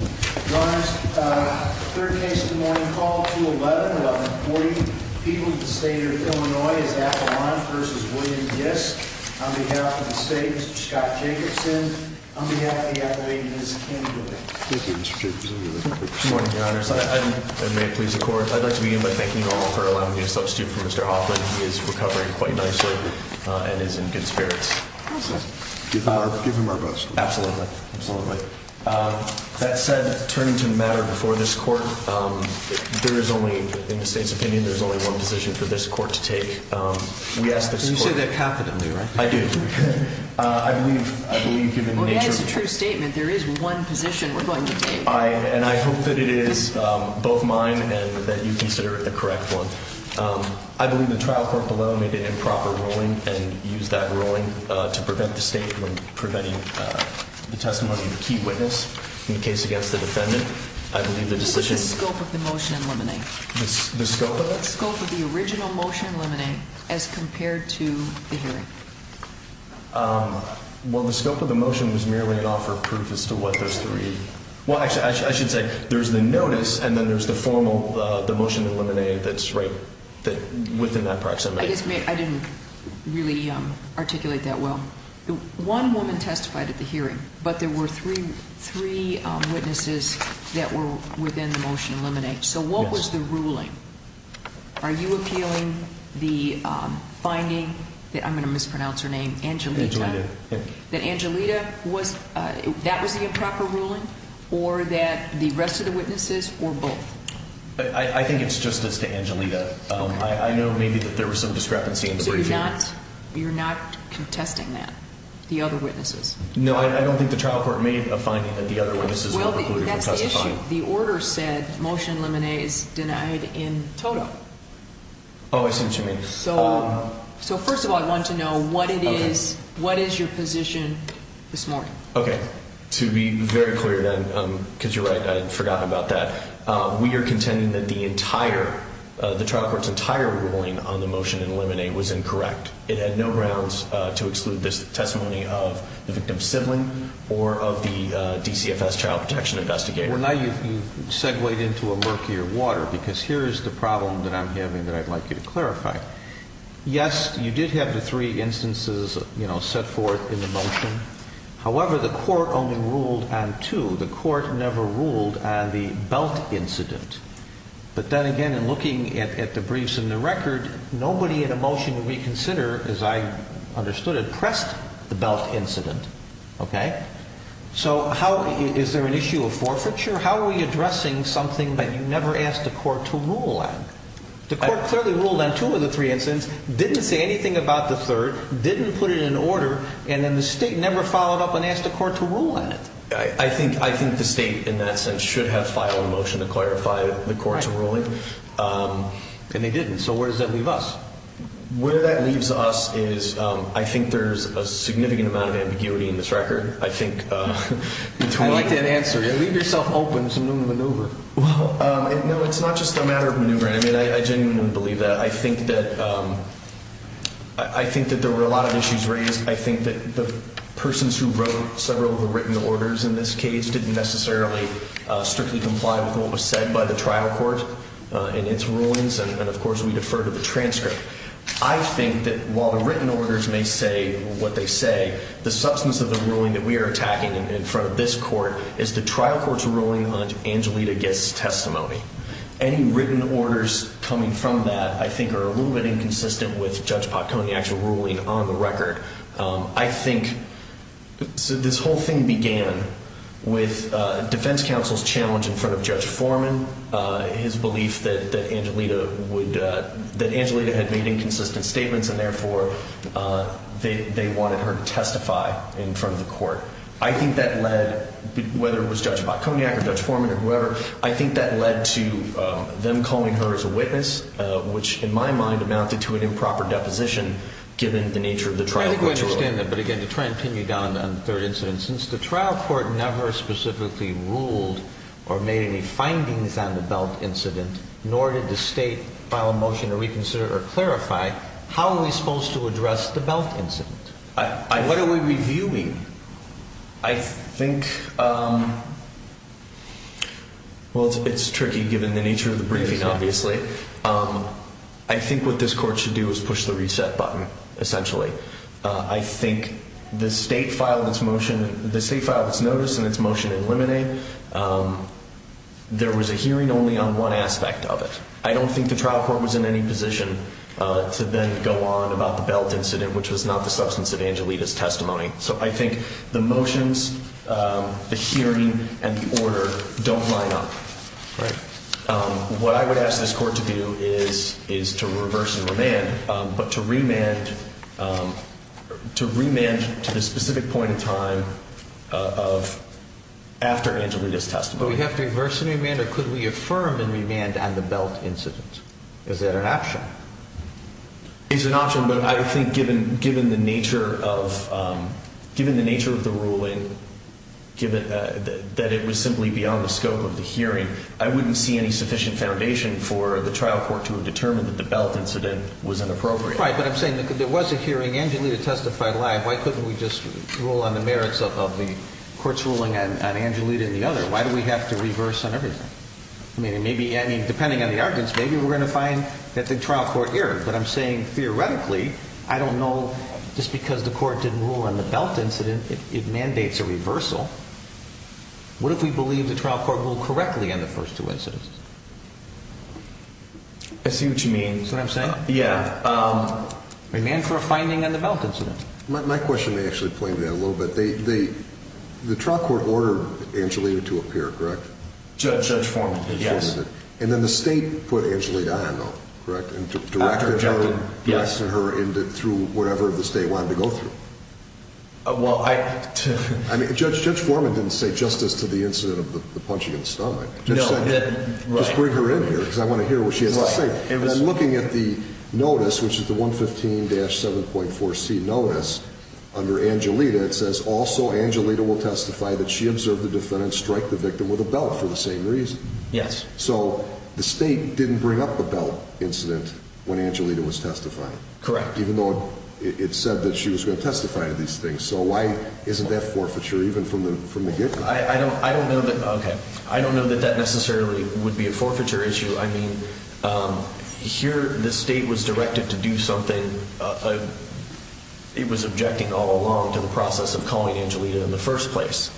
On behalf of the state, Mr. Scott Jacobson, on behalf of the athlete, Ms. Kim Dilley. Thank you, Mr. Jacobson. Good morning, Your Honors. I'd like to begin by thanking you all for allowing me to substitute for Mr. Hoffman. He is recovering quite nicely and is in good spirits. Give him our best wishes. Absolutely. That said, turning to the matter before this court, there is only, in the state's opinion, there is only one position for this court to take. Can you say that capitally? I do. I believe given the nature of... Well, yeah, it's a true statement. There is one position we're going to take. And I hope that it is both mine and that you consider it the correct one. I believe the trial court below made an improper ruling and used that ruling to prevent the state from preventing the testimony of the key witness in the case against the defendant. I believe the decision... What is the scope of the motion in limine? The scope of it? The scope of the original motion in limine as compared to the hearing. Well, the scope of the motion was merely an offer of proof as to what those three... Well, actually, I should say there's the notice and then there's the motion in limine that's right within that proximity. I guess I didn't really articulate that well. One woman testified at the hearing, but there were three witnesses that were within the motion in limine. So what was the ruling? Are you appealing the finding that... I'm going to mispronounce her name... Angelita. Angelita. That Angelita was... That was the improper ruling or that the rest of the witnesses or both? I think it's just as to Angelita. I know maybe that there was some discrepancy in the briefing. So you're not contesting that, the other witnesses? No, I don't think the trial court made a finding that the other witnesses were precluded from testifying. Well, that's the issue. The order said motion in limine is denied in total. Oh, I see what you mean. So first of all, I want to know what it is, what is your position this morning? Okay. To be very clear then, because you're right, I forgot about that. We are contending that the entire, the trial court's entire ruling on the motion in limine was incorrect. It had no grounds to exclude this testimony of the victim's sibling or of the DCFS child protection investigator. Well, now you've segued into a murkier water because here is the problem that I'm having that I'd like you to clarify. Yes, you did have the three instances, you know, set forth in the motion. However, the court only ruled on two. The court never ruled on the belt incident. But then again, in looking at the briefs and the record, nobody in a motion would reconsider, as I understood it, pressed the belt incident. Okay? So how, is there an issue of forfeiture? How are we addressing something that you never asked the court to rule on? The court clearly ruled on two of the three incidents, didn't say anything about the third, didn't put it in order, and then the state never followed up and asked the court to rule on it. I think the state, in that sense, should have filed a motion to clarify the court's ruling. And they didn't. So where does that leave us? Where that leaves us is I think there's a significant amount of ambiguity in this record. I like that answer. Leave yourself open to maneuver. Well, no, it's not just a matter of maneuvering. I genuinely believe that. I think that there were a lot of issues raised. I think that the persons who wrote several of the written orders in this case didn't necessarily strictly comply with what was said by the trial court in its rulings. And, of course, we defer to the transcript. I think that while the written orders may say what they say, the substance of the ruling that we are attacking in front of this court is the trial court's ruling on Angelita Gist's testimony. Any written orders coming from that I think are a little bit inconsistent with Judge Patconi's actual ruling on the record. I think this whole thing began with defense counsel's challenge in front of Judge Foreman, his belief that Angelita had made inconsistent statements and, therefore, they wanted her to testify in front of the court. I think that led, whether it was Judge Patconi or Judge Foreman or whoever, I think that led to them calling her as a witness, which in my mind amounted to an improper deposition given the nature of the trial court's rule. I think we understand that. But, again, to try and pin you down on the third incident, since the trial court never specifically ruled or made any findings on the Belt incident, nor did the state file a motion to reconsider or clarify, how are we supposed to address the Belt incident? What are we reviewing? I think, well, it's tricky given the nature of the briefing, obviously. I think what this court should do is push the reset button, essentially. I think the state filed its motion, the state filed its notice and its motion to eliminate. There was a hearing only on one aspect of it. I don't think the trial court was in any position to then go on about the Belt incident, which was not the substance of Angelita's testimony. So I think the motions, the hearing, and the order don't line up. What I would ask this court to do is to reverse and remand, but to remand to the specific point in time after Angelita's testimony. Do we have to reverse and remand, or could we affirm and remand on the Belt incident? Is that an option? It's an option, but I think given the nature of the ruling, given that it was simply beyond the scope of the hearing, I wouldn't see any sufficient foundation for the trial court to have determined that the Belt incident was inappropriate. Right, but I'm saying there was a hearing. Angelita testified live. Why couldn't we just rule on the merits of the court's ruling on Angelita and the other? Why do we have to reverse on everything? I mean, depending on the arguments, maybe we're going to find that the trial court erred. But I'm saying, theoretically, I don't know. Just because the court didn't rule on the Belt incident, it mandates a reversal. What if we believe the trial court ruled correctly on the first two incidents? I see what you mean. Is that what I'm saying? Yeah. Remand for a finding on the Belt incident. My question may actually play into that a little bit. The trial court ordered Angelita to appear, correct? Judge formatted, yes. And then the state put Angelita on, though, correct? Directed her through whatever the state wanted to go through. Well, I... Judge Foreman didn't say justice to the incident of the punching in the stomach. No, he didn't. Just bring her in here because I want to hear what she has to say. And then looking at the notice, which is the 115-7.4C notice, under Angelita, it says, Also, Angelita will testify that she observed the defendant strike the victim with a belt for the same reason. Yes. So the state didn't bring up the Belt incident when Angelita was testifying. Correct. Even though it said that she was going to testify to these things. So why isn't that forfeiture, even from the get-go? I don't know that that necessarily would be a forfeiture issue. I mean, here the state was directed to do something. It was objecting all along to the process of calling Angelita in the first place.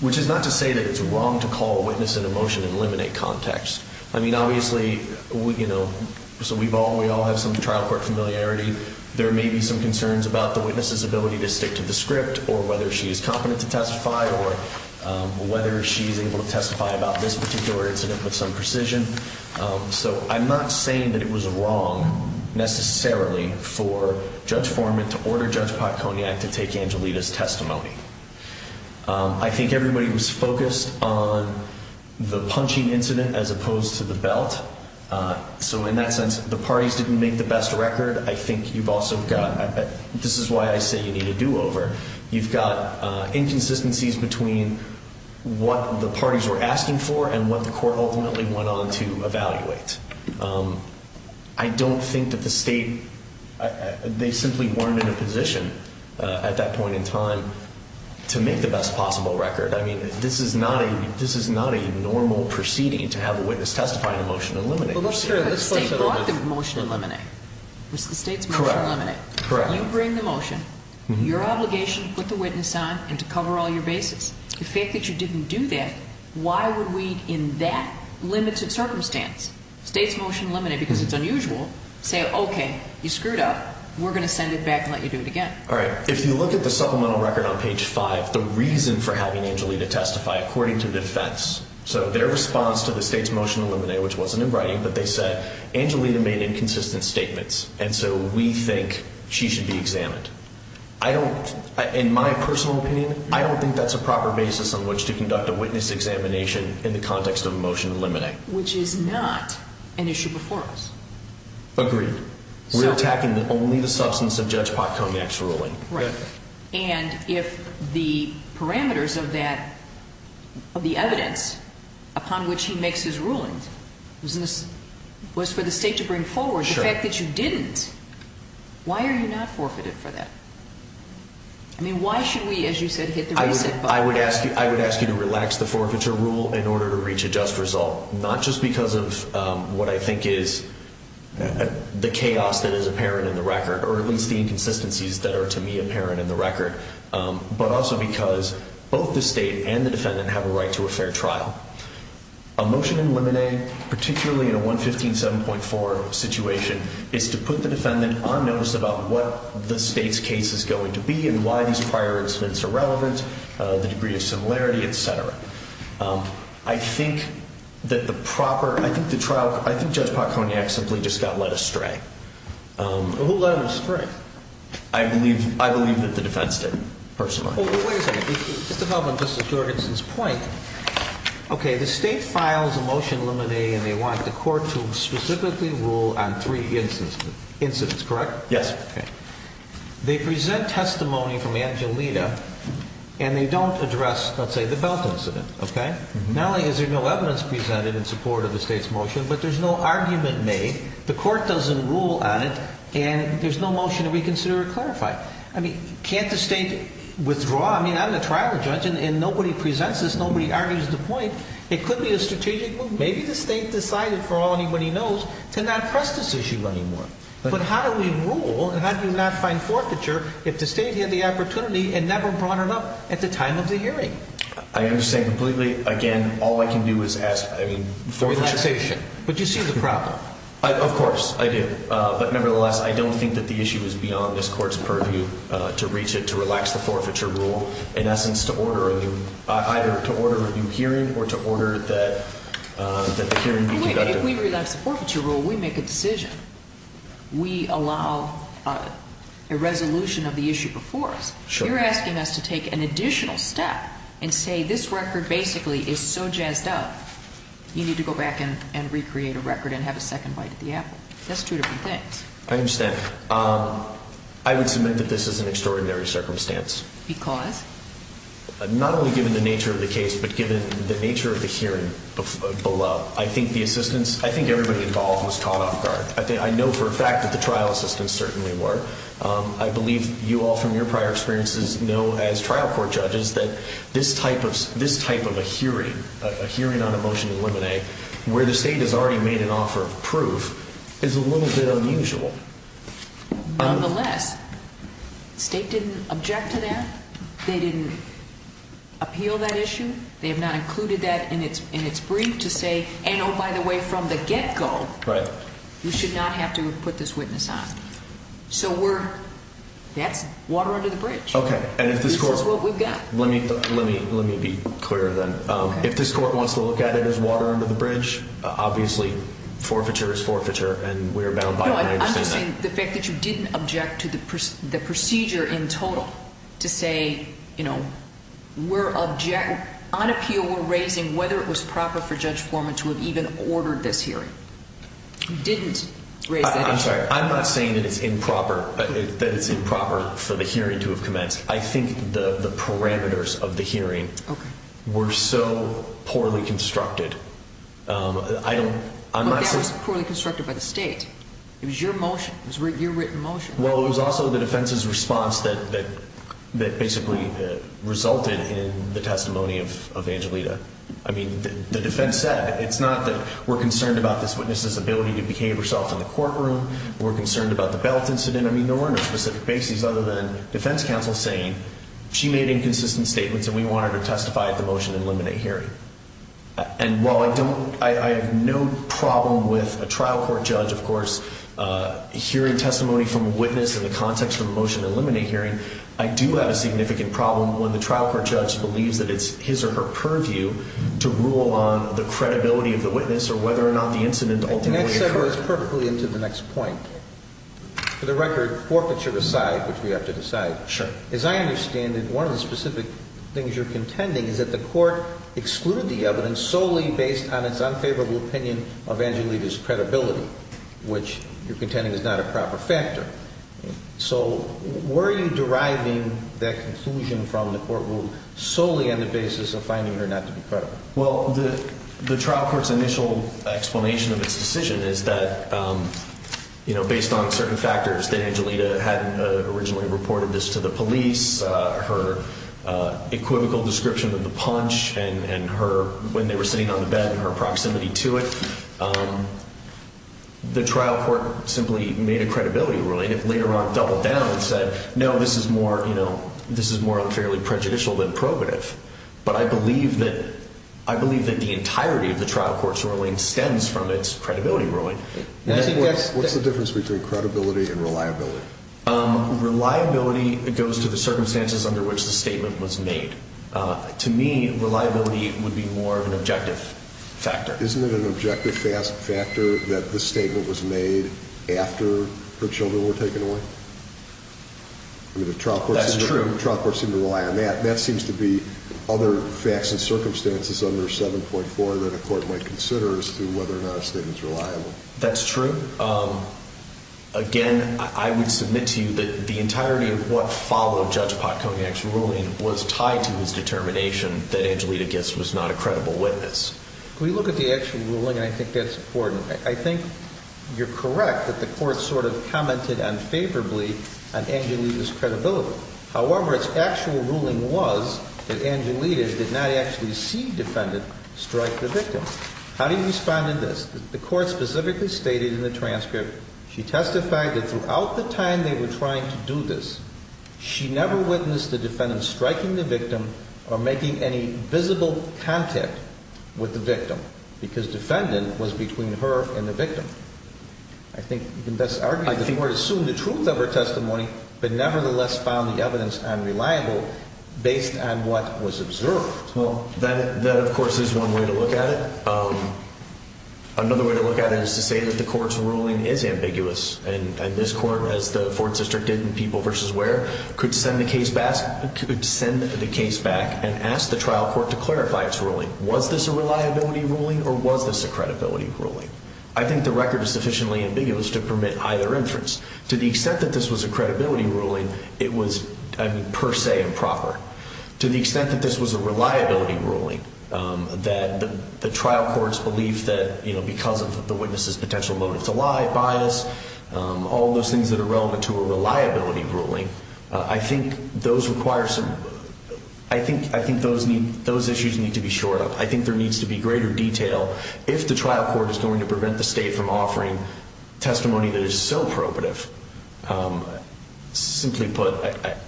Which is not to say that it's wrong to call a witness into motion and eliminate context. I mean, obviously, you know, we all have some trial court familiarity. There may be some concerns about the witness's ability to stick to the script or whether she is competent to testify or whether she is able to testify about this particular incident with some precision. So I'm not saying that it was wrong necessarily for Judge Forman to order Judge Potconiac to take Angelita's testimony. I think everybody was focused on the punching incident as opposed to the belt. So in that sense, the parties didn't make the best record. I think you've also got, this is why I say you need a do-over. You've got inconsistencies between what the parties were asking for and what the court ultimately went on to evaluate. I don't think that the state, they simply weren't in a position at that point in time to make the best possible record. I mean, this is not a normal proceeding to have a witness testify in a motion to eliminate. But let's say the state brought the motion to eliminate. It was the state's motion to eliminate. You bring the motion, your obligation to put the witness on and to cover all your bases. The fact that you didn't do that, why would we in that limited circumstance, state's motion to eliminate because it's unusual, say, okay, you screwed up. We're going to send it back and let you do it again. All right. If you look at the supplemental record on page 5, the reason for having Angelita testify according to defense. So their response to the state's motion to eliminate, which wasn't in writing, but they said, Angelita made inconsistent statements and so we think she should be examined. In my personal opinion, I don't think that's a proper basis on which to conduct a witness examination in the context of a motion to eliminate. Which is not an issue before us. Agreed. We're attacking only the substance of Judge Potcomac's ruling. Right. And if the parameters of the evidence upon which he makes his rulings was for the state to bring forward, the fact that you didn't, why are you not forfeited for that? I mean, why should we, as you said, hit the reset button? I would ask you to relax the forfeiture rule in order to reach a just result. Not just because of what I think is the chaos that is apparent in the record, or at least the inconsistencies that are to me apparent in the record, but also because both the state and the defendant have a right to a fair trial. A motion to eliminate, particularly in a 115-7.4 situation, is to put the defendant on notice about what the state's case is going to be and why these prior incidents are relevant, the degree of similarity, etc. I think that the proper, I think Judge Potcomac simply just got led astray. Who led astray? I believe that the defense did, personally. Well, wait a second. Just to follow up on Justice Jorgensen's point, okay, the state files a motion eliminating, and they want the court to specifically rule on three incidents, correct? Yes. They present testimony from Angelita, and they don't address, let's say, the Belt incident, okay? Not only is there no evidence presented in support of the state's motion, but there's no argument made, the court doesn't rule on it, and there's no motion to reconsider or clarify. I mean, can't the state withdraw? I mean, I'm a trial judge, and nobody presents this, nobody argues the point. It could be a strategic move. Maybe the state decided, for all anybody knows, to not press this issue anymore. But how do we rule and how do we not find forfeiture if the state had the opportunity and never brought it up at the time of the hearing? I understand completely. Again, all I can do is ask, I mean, forfeiture. But you see the problem. Of course, I do. But, nevertheless, I don't think that the issue is beyond this court's purview to reach it, to relax the forfeiture rule. In essence, to order a new hearing or to order that the hearing be conducted. If we relax the forfeiture rule, we make a decision. We allow a resolution of the issue before us. You're asking us to take an additional step and say this record basically is so jazzed up, you need to go back and recreate a record and have a second bite at the apple. That's two different things. I understand. I would submit that this is an extraordinary circumstance. Because? Not only given the nature of the case, but given the nature of the hearing below. I think the assistance, I think everybody involved was caught off guard. I know for a fact that the trial assistants certainly were. I believe you all from your prior experiences know, as trial court judges, that this type of a hearing, a hearing on a motion to eliminate, where the state has already made an offer of proof, is a little bit unusual. Nonetheless, the state didn't object to that. They didn't appeal that issue. They have not included that in its brief to say, and oh, by the way, from the get-go, you should not have to put this witness on. So that's water under the bridge. This is what we've got. Let me be clear then. If this court wants to look at it as water under the bridge, obviously forfeiture is forfeiture, and we're bound by that. No, I'm just saying the fact that you didn't object to the procedure in total to say, you know, we're on appeal. We're raising whether it was proper for Judge Foreman to have even ordered this hearing. You didn't raise that issue. I'm sorry. I'm not saying that it's improper for the hearing to have commenced. I think the parameters of the hearing were so poorly constructed. That was poorly constructed by the state. It was your motion. It was your written motion. Well, it was also the defense's response that basically resulted in the testimony of Angelita. I mean, the defense said, it's not that we're concerned about this witness's ability to behave herself in the courtroom. We're concerned about the belt incident. I mean, there were no specific bases other than defense counsel saying she made inconsistent statements and we want her to testify at the motion to eliminate hearing. And while I have no problem with a trial court judge, of course, hearing testimony from a witness in the context of a motion to eliminate hearing, I do have a significant problem when the trial court judge believes that it's his or her purview to rule on the credibility of the witness or whether or not the incident ultimately occurred. I think that separates perfectly into the next point. For the record, forfeiture aside, which we have to decide. Sure. As I understand it, one of the specific things you're contending is that the court excluded the evidence solely based on its unfavorable opinion of Angelita's credibility, which you're contending is not a proper factor. So were you deriving that conclusion from the courtroom solely on the basis of finding her not to be credible? Well, the trial court's initial explanation of its decision is that, you know, based on certain factors that Angelita had originally reported this to the police, her equivocal description of the punch and her, when they were sitting on the bed, and her proximity to it, the trial court simply made a credibility ruling. It later on doubled down and said, no, this is more unfairly prejudicial than probative. But I believe that the entirety of the trial court's ruling stems from its credibility ruling. What's the difference between credibility and reliability? Reliability goes to the circumstances under which the statement was made. To me, reliability would be more of an objective factor. Isn't it an objective factor that the statement was made after her children were taken away? That's true. The trial court seemed to rely on that. That seems to be other facts and circumstances under 7.4 that a court might consider as to whether or not a statement is reliable. That's true. Again, I would submit to you that the entirety of what followed Judge Patconi's actual ruling was tied to his determination that Angelita Gist was not a credible witness. Can we look at the actual ruling? I think that's important. I think you're correct that the court sort of commented unfavorably on Angelita's credibility. However, its actual ruling was that Angelita did not actually see defendant strike the victim. How do you respond to this? The court specifically stated in the transcript, she testified that throughout the time they were trying to do this, she never witnessed the defendant striking the victim or making any visible contact with the victim because defendant was between her and the victim. I think you can thus argue that the court assumed the truth of her testimony but nevertheless found the evidence unreliable based on what was observed. That, of course, is one way to look at it. Another way to look at it is to say that the court's ruling is ambiguous and this court, as the Fort District did in People v. Ware, could send the case back and ask the trial court to clarify its ruling. Was this a reliability ruling or was this a credibility ruling? I think the record is sufficiently ambiguous to permit either inference. To the extent that this was a credibility ruling, it was per se improper. To the extent that this was a reliability ruling, that the trial court's belief that because of the witness's potential motive to lie, bias, all those things that are relevant to a reliability ruling, I think those issues need to be shored up. I think there needs to be greater detail. If the trial court is going to prevent the state from offering testimony that is so probative, simply put,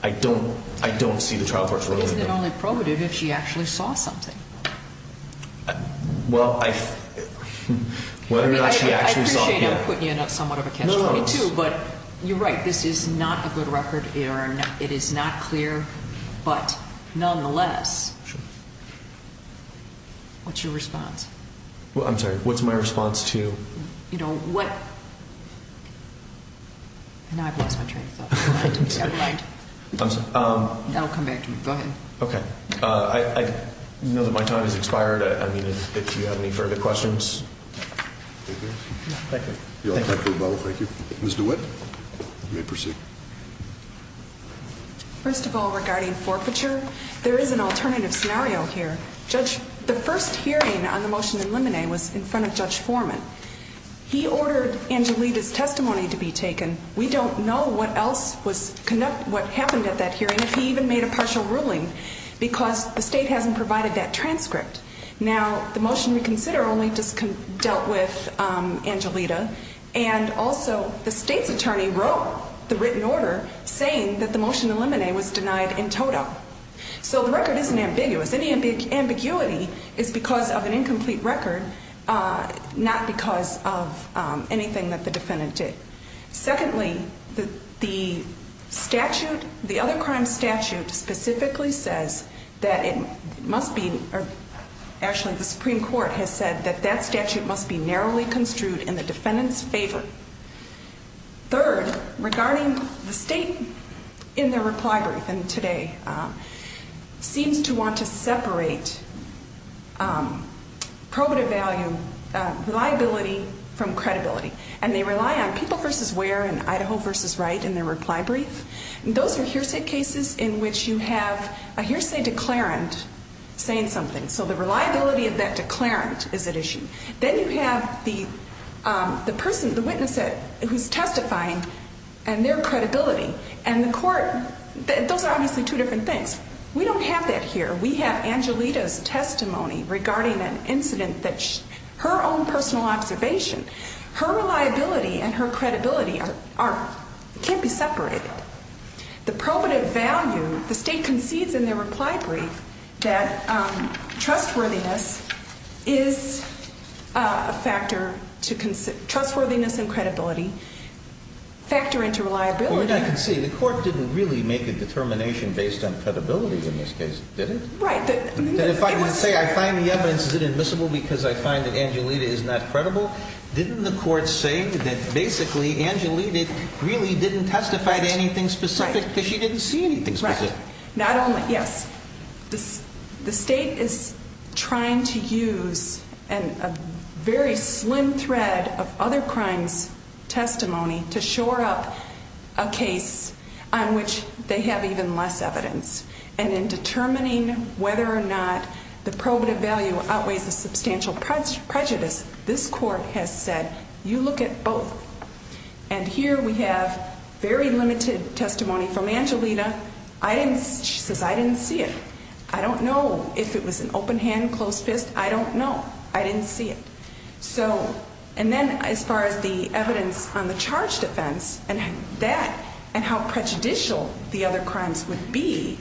I don't see the trial court's ruling there. Isn't it only probative if she actually saw something? Well, whether or not she actually saw it, yeah. I appreciate him putting in somewhat of a catch-22, but you're right. This is not a good record. It is not clear, but nonetheless, what's your response? I'm sorry, what's my response to? You know, what? Now I've lost my train of thought. I'm sorry. That'll come back to me. Go ahead. Okay. I know that my time has expired. I mean, if you have any further questions. Thank you. Thank you. Ms. DeWitt, you may proceed. First of all, regarding forfeiture, there is an alternative scenario here. Judge, the first hearing on the motion in limine was in front of Judge Foreman. He ordered Angelita's testimony to be taken. We don't know what else was conducted, what happened at that hearing, if he even made a partial ruling, because the state hasn't provided that transcript. Now, the motion we consider only dealt with Angelita, and also the state's attorney wrote the written order saying that the motion in limine was denied in total. So the record isn't ambiguous. Any ambiguity is because of an incomplete record, not because of anything that the defendant did. Secondly, the statute, the other crime statute, specifically says that it must be, or actually the Supreme Court has said that that statute must be narrowly construed in the defendant's favor. Third, regarding the state in their reply brief, and today, seems to want to separate probative value, reliability, from credibility. And they rely on people versus where and Idaho versus right in their reply brief. Those are hearsay cases in which you have a hearsay declarant saying something. So the reliability of that declarant is at issue. Then you have the person, the witness who's testifying and their credibility. And the court, those are obviously two different things. We don't have that here. We have Angelita's testimony regarding an incident that her own personal observation, her reliability and her credibility are, can't be separated. The probative value, the state concedes in their reply brief that trustworthiness is a factor to, trustworthiness and credibility factor into reliability. Well, you're not conceding. The court didn't really make a determination based on credibility in this case, did it? Right. If I say I find the evidence, is it admissible because I find that Angelita is not credible? Didn't the court say that basically Angelita really didn't testify to anything specific because she didn't see anything specific? Right. Not only, yes. The state is trying to use a very slim thread of other crimes testimony to shore up a case on which they have even less evidence. And in determining whether or not the probative value outweighs the substantial prejudice, this court has said, you look at both. And here we have very limited testimony from Angelita. I didn't, she says, I didn't see it. I don't know if it was an open hand, closed fist. I don't know. I didn't see it. And then as far as the evidence on the charge defense and that and how prejudicial the other crimes would be,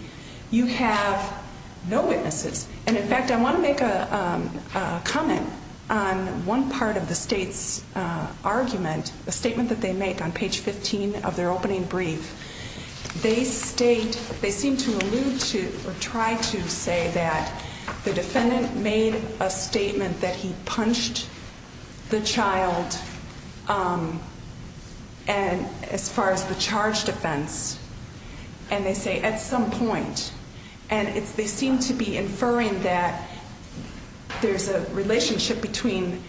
you have no witnesses. And, in fact, I want to make a comment on one part of the state's argument, a statement that they make on page 15 of their opening brief. They state, they seem to allude to or try to say that the defendant made a statement that he punched the child as far as the charge defense. And they say at some point. And they seem to be inferring that there's a relationship between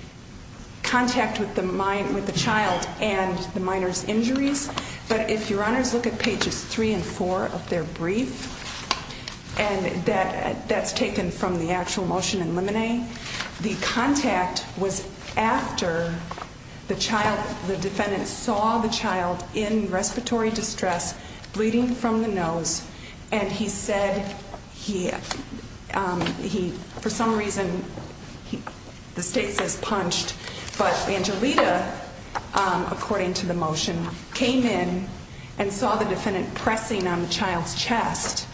contact with the child and the minor's injuries. But if your honors look at pages three and four of their brief, and that's taken from the actual motion in limine. The contact was after the child, the defendant saw the child in respiratory distress, bleeding from the nose. And he said he, for some reason, the state says punched. But Angelita, according to the motion, came in and saw the defendant pressing on the child's chest,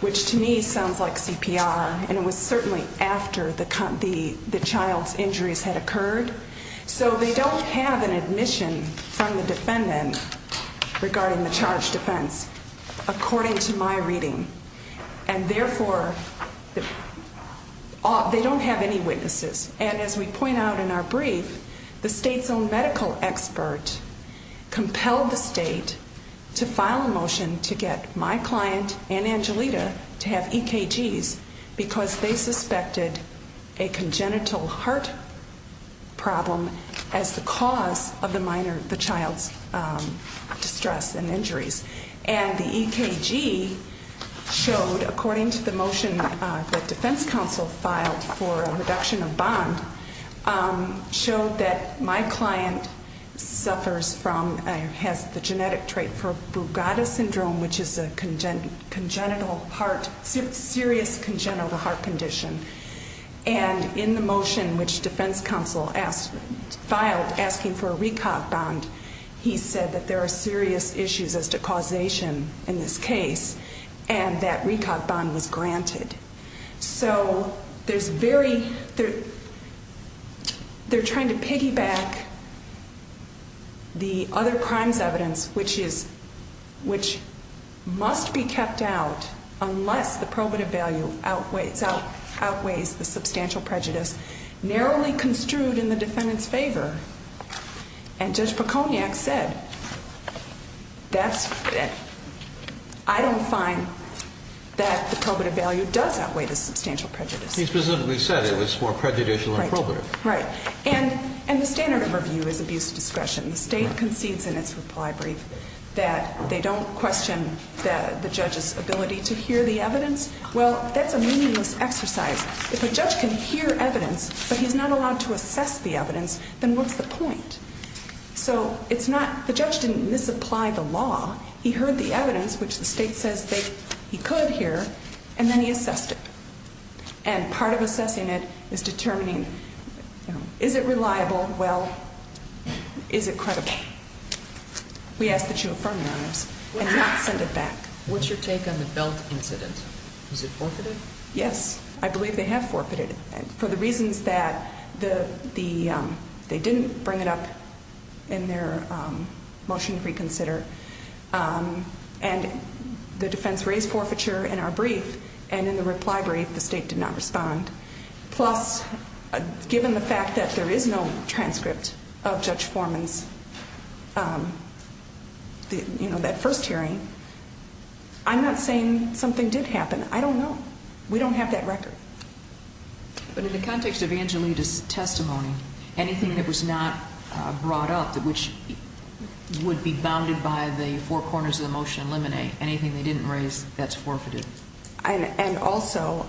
which to me sounds like CPR. And it was certainly after the child's injuries had occurred. So they don't have an admission from the defendant regarding the charge defense, according to my reading. And therefore, they don't have any witnesses. And as we point out in our brief, the state's own medical expert compelled the state to file a motion to get my client and Angelita to have EKGs. Because they suspected a congenital heart problem as the cause of the minor, the child's distress and injuries. And the EKG showed, according to the motion that defense counsel filed for a reduction of bond, showed that my client suffers from, has the genetic trait for Bugatta syndrome, which is a congenital heart, serious congenital heart condition. And in the motion which defense counsel filed asking for a recalc bond, he said that there are serious issues as to causation in this case. And that recalc bond was granted. So they're trying to piggyback the other crimes evidence, which must be kept out unless the probative value outweighs the substantial prejudice, narrowly construed in the defendant's favor. And Judge Poconiac said, I don't find that the probative value does outweigh the substantial prejudice. He specifically said it was more prejudicial than probative. Right. And the standard of review is abuse of discretion. The state concedes in its reply brief that they don't question the judge's ability to hear the evidence. Well, that's a meaningless exercise. If a judge can hear evidence, but he's not allowed to assess the evidence, then what's the point? So it's not the judge didn't misapply the law. He heard the evidence, which the state says he could hear. And then he assessed it. And part of assessing it is determining, is it reliable? Well, is it credible? We ask that you affirm your honors and not send it back. What's your take on the belt incident? Was it forfeited? Yes, I believe they have forfeited for the reasons that they didn't bring it up in their motion to reconsider. And the defense raised forfeiture in our brief. And in the reply brief, the state did not respond. Plus, given the fact that there is no transcript of Judge Foreman's, you know, that first hearing, I'm not saying something did happen. I don't know. We don't have that record. But in the context of Angelita's testimony, anything that was not brought up, which would be bounded by the four corners of the motion eliminate, anything they didn't raise, that's forfeited. And also,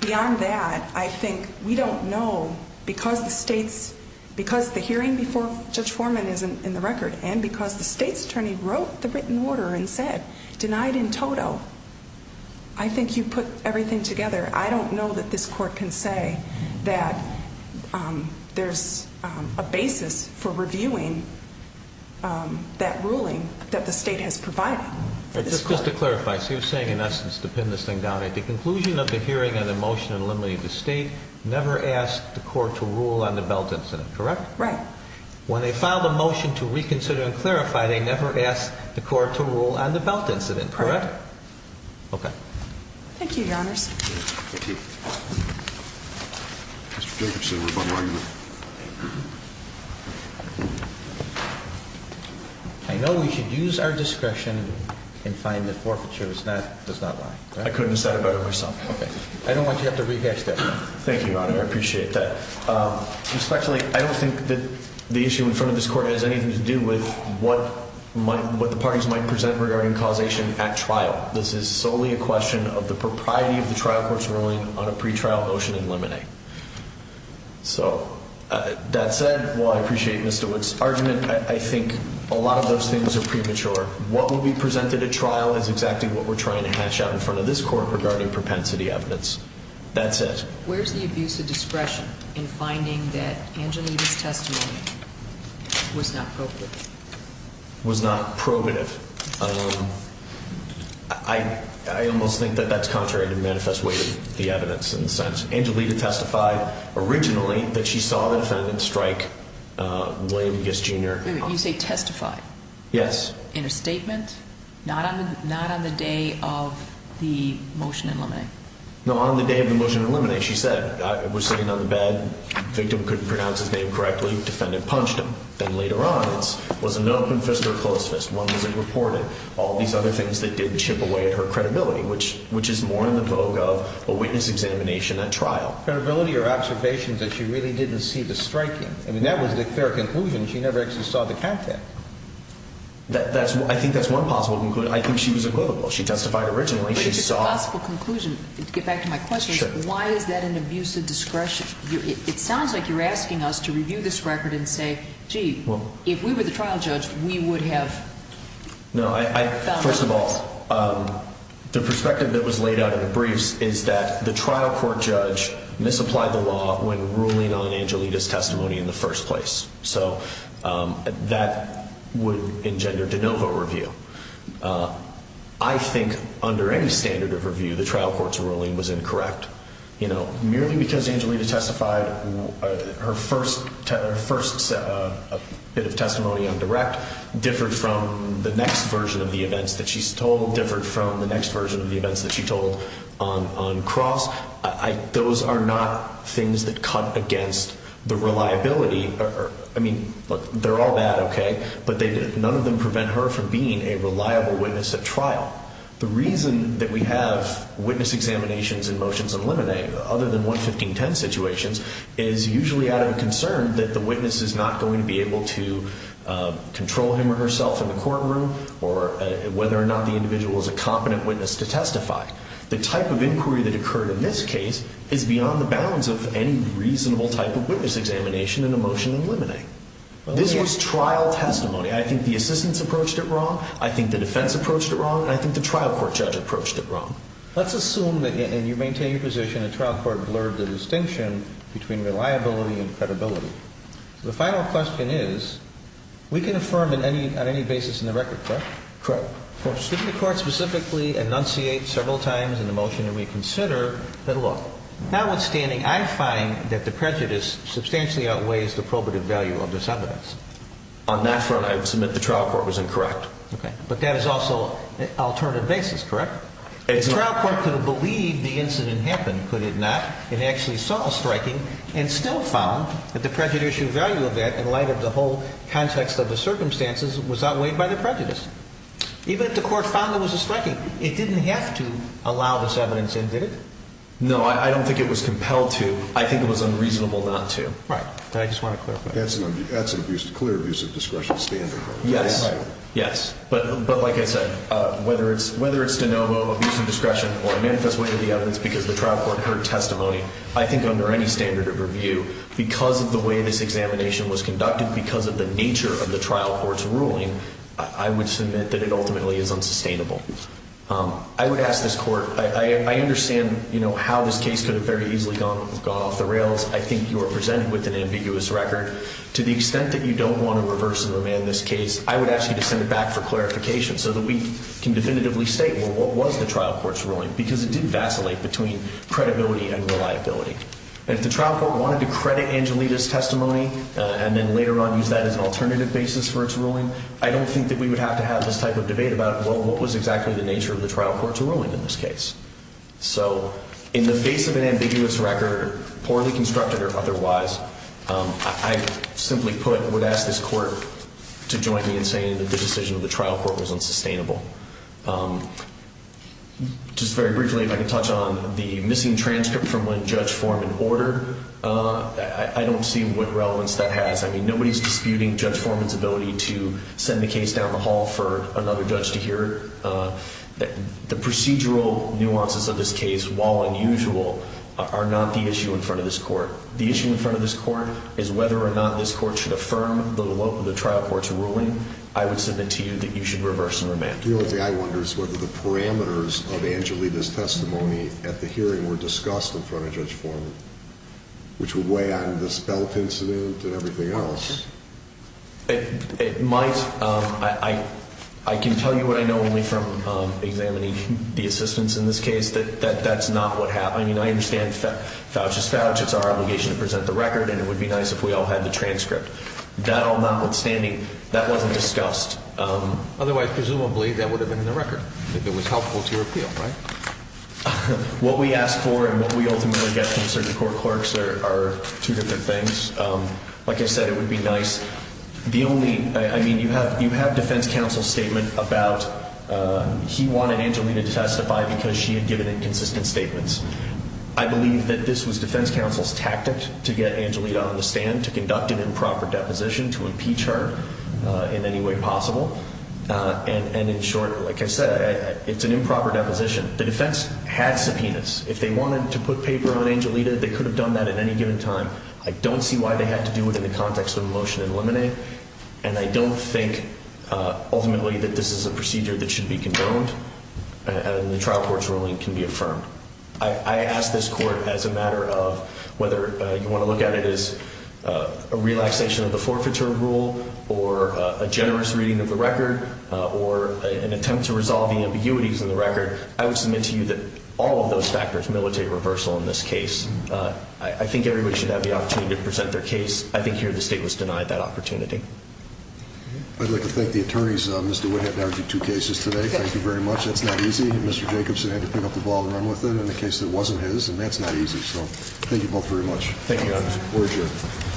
beyond that, I think we don't know, because the hearing before Judge Foreman isn't in the record, and because the state's attorney wrote the written order and said, denied in toto, I think you put everything together. I don't know that this court can say that there's a basis for reviewing that ruling that the state has provided. Just to clarify, so you're saying, in essence, to pin this thing down, at the conclusion of the hearing on the motion eliminating the state, never asked the court to rule on the Belt incident, correct? Right. When they filed a motion to reconsider and clarify, they never asked the court to rule on the Belt incident, correct? Right. Okay. Thank you, Your Honors. Thank you. Mr. Jacobson, rebuttal argument. I know we should use our discretion and find the forfeiture. It's not lying. I couldn't have said it better myself. Okay. I don't want you to have to rehash that. Thank you, Your Honor. I appreciate that. Respectfully, I don't think that the issue in front of this court has anything to do with what the parties might present regarding causation at trial. This is solely a question of the propriety of the trial court's ruling on a pretrial motion eliminate. So, that said, while I appreciate Mr. Wood's argument, I think a lot of those things are premature. What will be presented at trial is exactly what we're trying to hash out in front of this court regarding propensity evidence. That's it. Where's the abuse of discretion in finding that Angelita's testimony was not probative? Was not probative. I almost think that that's contrary to the manifest way of the evidence in a sense. Angelita testified originally that she saw the defendant strike William Giss Jr. Wait a minute. You say testified? Yes. In a statement? Not on the day of the motion eliminate? No, on the day of the motion eliminate. She said, I was sitting on the bed. Victim couldn't pronounce his name correctly. Defendant punched him. Then later on, it was an open fist or a closed fist. All these other things that did chip away at her credibility, which is more in the vogue of a witness examination at trial. Credibility or observations that she really didn't see the striking. I mean, that was a fair conclusion. She never actually saw the content. I think that's one possible conclusion. I think she was equivocal. She testified originally. It's a possible conclusion. To get back to my question, why is that an abuse of discretion? It sounds like you're asking us to review this record and say, gee, if we were the trial judge, we would have found this. First of all, the perspective that was laid out in the briefs is that the trial court judge misapplied the law when ruling on Angelita's testimony in the first place. So that would engender de novo review. I think under any standard of review, the trial court's ruling was incorrect. Merely because Angelita testified, her first bit of testimony on direct differed from the next version of the events that she's told, differed from the next version of the events that she told on cross. Those are not things that cut against the reliability. I mean, look, they're all bad, okay, but none of them prevent her from being a reliable witness at trial. The reason that we have witness examinations and motions in limine, other than 11510 situations, is usually out of concern that the witness is not going to be able to control him or herself in the courtroom or whether or not the individual is a competent witness to testify. The type of inquiry that occurred in this case is beyond the bounds of any reasonable type of witness examination in a motion in limine. This was trial testimony. I think the assistants approached it wrong. I think the defense approached it wrong. I think the trial court judge approached it wrong. Let's assume that, and you maintain your position, a trial court blurred the distinction between reliability and credibility. The final question is, we can affirm on any basis in the record, correct? Correct. Shouldn't the court specifically enunciate several times in the motion that we consider that, look, notwithstanding, I find that the prejudice substantially outweighs the probative value of this evidence? On that front, I would submit the trial court was incorrect. Okay. But that is also an alternative basis, correct? Exactly. The trial court could have believed the incident happened, could it not, and actually saw a striking and still found that the prejudicial value of that in light of the whole context of the circumstances was outweighed by the prejudice. Even if the court found there was a striking, it didn't have to allow this evidence in, did it? No, I don't think it was compelled to. I think it was unreasonable not to. Right. I just want to clarify. That's an abuse, clear abuse of discretion standard. Yes. But like I said, whether it's de novo abuse of discretion or a manifest way to the evidence because the trial court heard testimony, I think under any standard of review, because of the way this examination was conducted, because of the nature of the trial court's ruling, I would submit that it ultimately is unsustainable. I would ask this court, I understand how this case could have very easily gone off the rails. I think you are presented with an ambiguous record. To the extent that you don't want to reverse and remand this case, I would ask you to send it back for clarification so that we can definitively state, well, what was the trial court's ruling? Because it did vacillate between credibility and reliability. And if the trial court wanted to credit Angelita's testimony and then later on use that as an alternative basis for its ruling, I don't think that we would have to have this type of debate about, well, what was exactly the nature of the trial court's ruling in this case? So in the face of an ambiguous record, poorly constructed or otherwise, I simply put would ask this court to join me in saying that the decision of the trial court was unsustainable. Just very briefly, if I can touch on the missing transcript from when Judge Foreman ordered, I don't see what relevance that has. I mean, nobody is disputing Judge Foreman's ability to send the case down the hall for another judge to hear it. The procedural nuances of this case, while unusual, are not the issue in front of this court. The issue in front of this court is whether or not this court should affirm the trial court's ruling. I would submit to you that you should reverse and remand. The only thing I wonder is whether the parameters of Angelita's testimony at the hearing were discussed in front of Judge Foreman, which would weigh on the spelt incident and everything else. It might. I can tell you what I know only from examining the assistants in this case, that that's not what happened. I mean, I understand Fouch is Fouch. It's our obligation to present the record, and it would be nice if we all had the transcript. That all notwithstanding, that wasn't discussed. Otherwise, presumably, that would have been in the record, if it was helpful to your appeal, right? What we asked for and what we ultimately get from certain court clerks are two different things. Like I said, it would be nice. I mean, you have defense counsel's statement about he wanted Angelita to testify because she had given inconsistent statements. I believe that this was defense counsel's tactic to get Angelita on the stand, to conduct an improper deposition, to impeach her in any way possible. And in short, like I said, it's an improper deposition. The defense had subpoenas. If they wanted to put paper on Angelita, they could have done that at any given time. I don't see why they had to do it in the context of a motion in limine. And I don't think, ultimately, that this is a procedure that should be condoned and the trial court's ruling can be affirmed. I ask this court, as a matter of whether you want to look at it as a relaxation of the forfeiture rule or a generous reading of the record or an attempt to resolve the ambiguities in the record, I would submit to you that all of those factors militate reversal in this case. I think everybody should have the opportunity to present their case. I think here the state was denied that opportunity. I'd like to thank the attorneys. Mr. Witt had to argue two cases today. Thank you very much. That's not easy. Mr. Jacobson had to pick up the ball and run with it in a case that wasn't his. And that's not easy. So thank you both very much. Thank you, Your Honor. We're adjourned.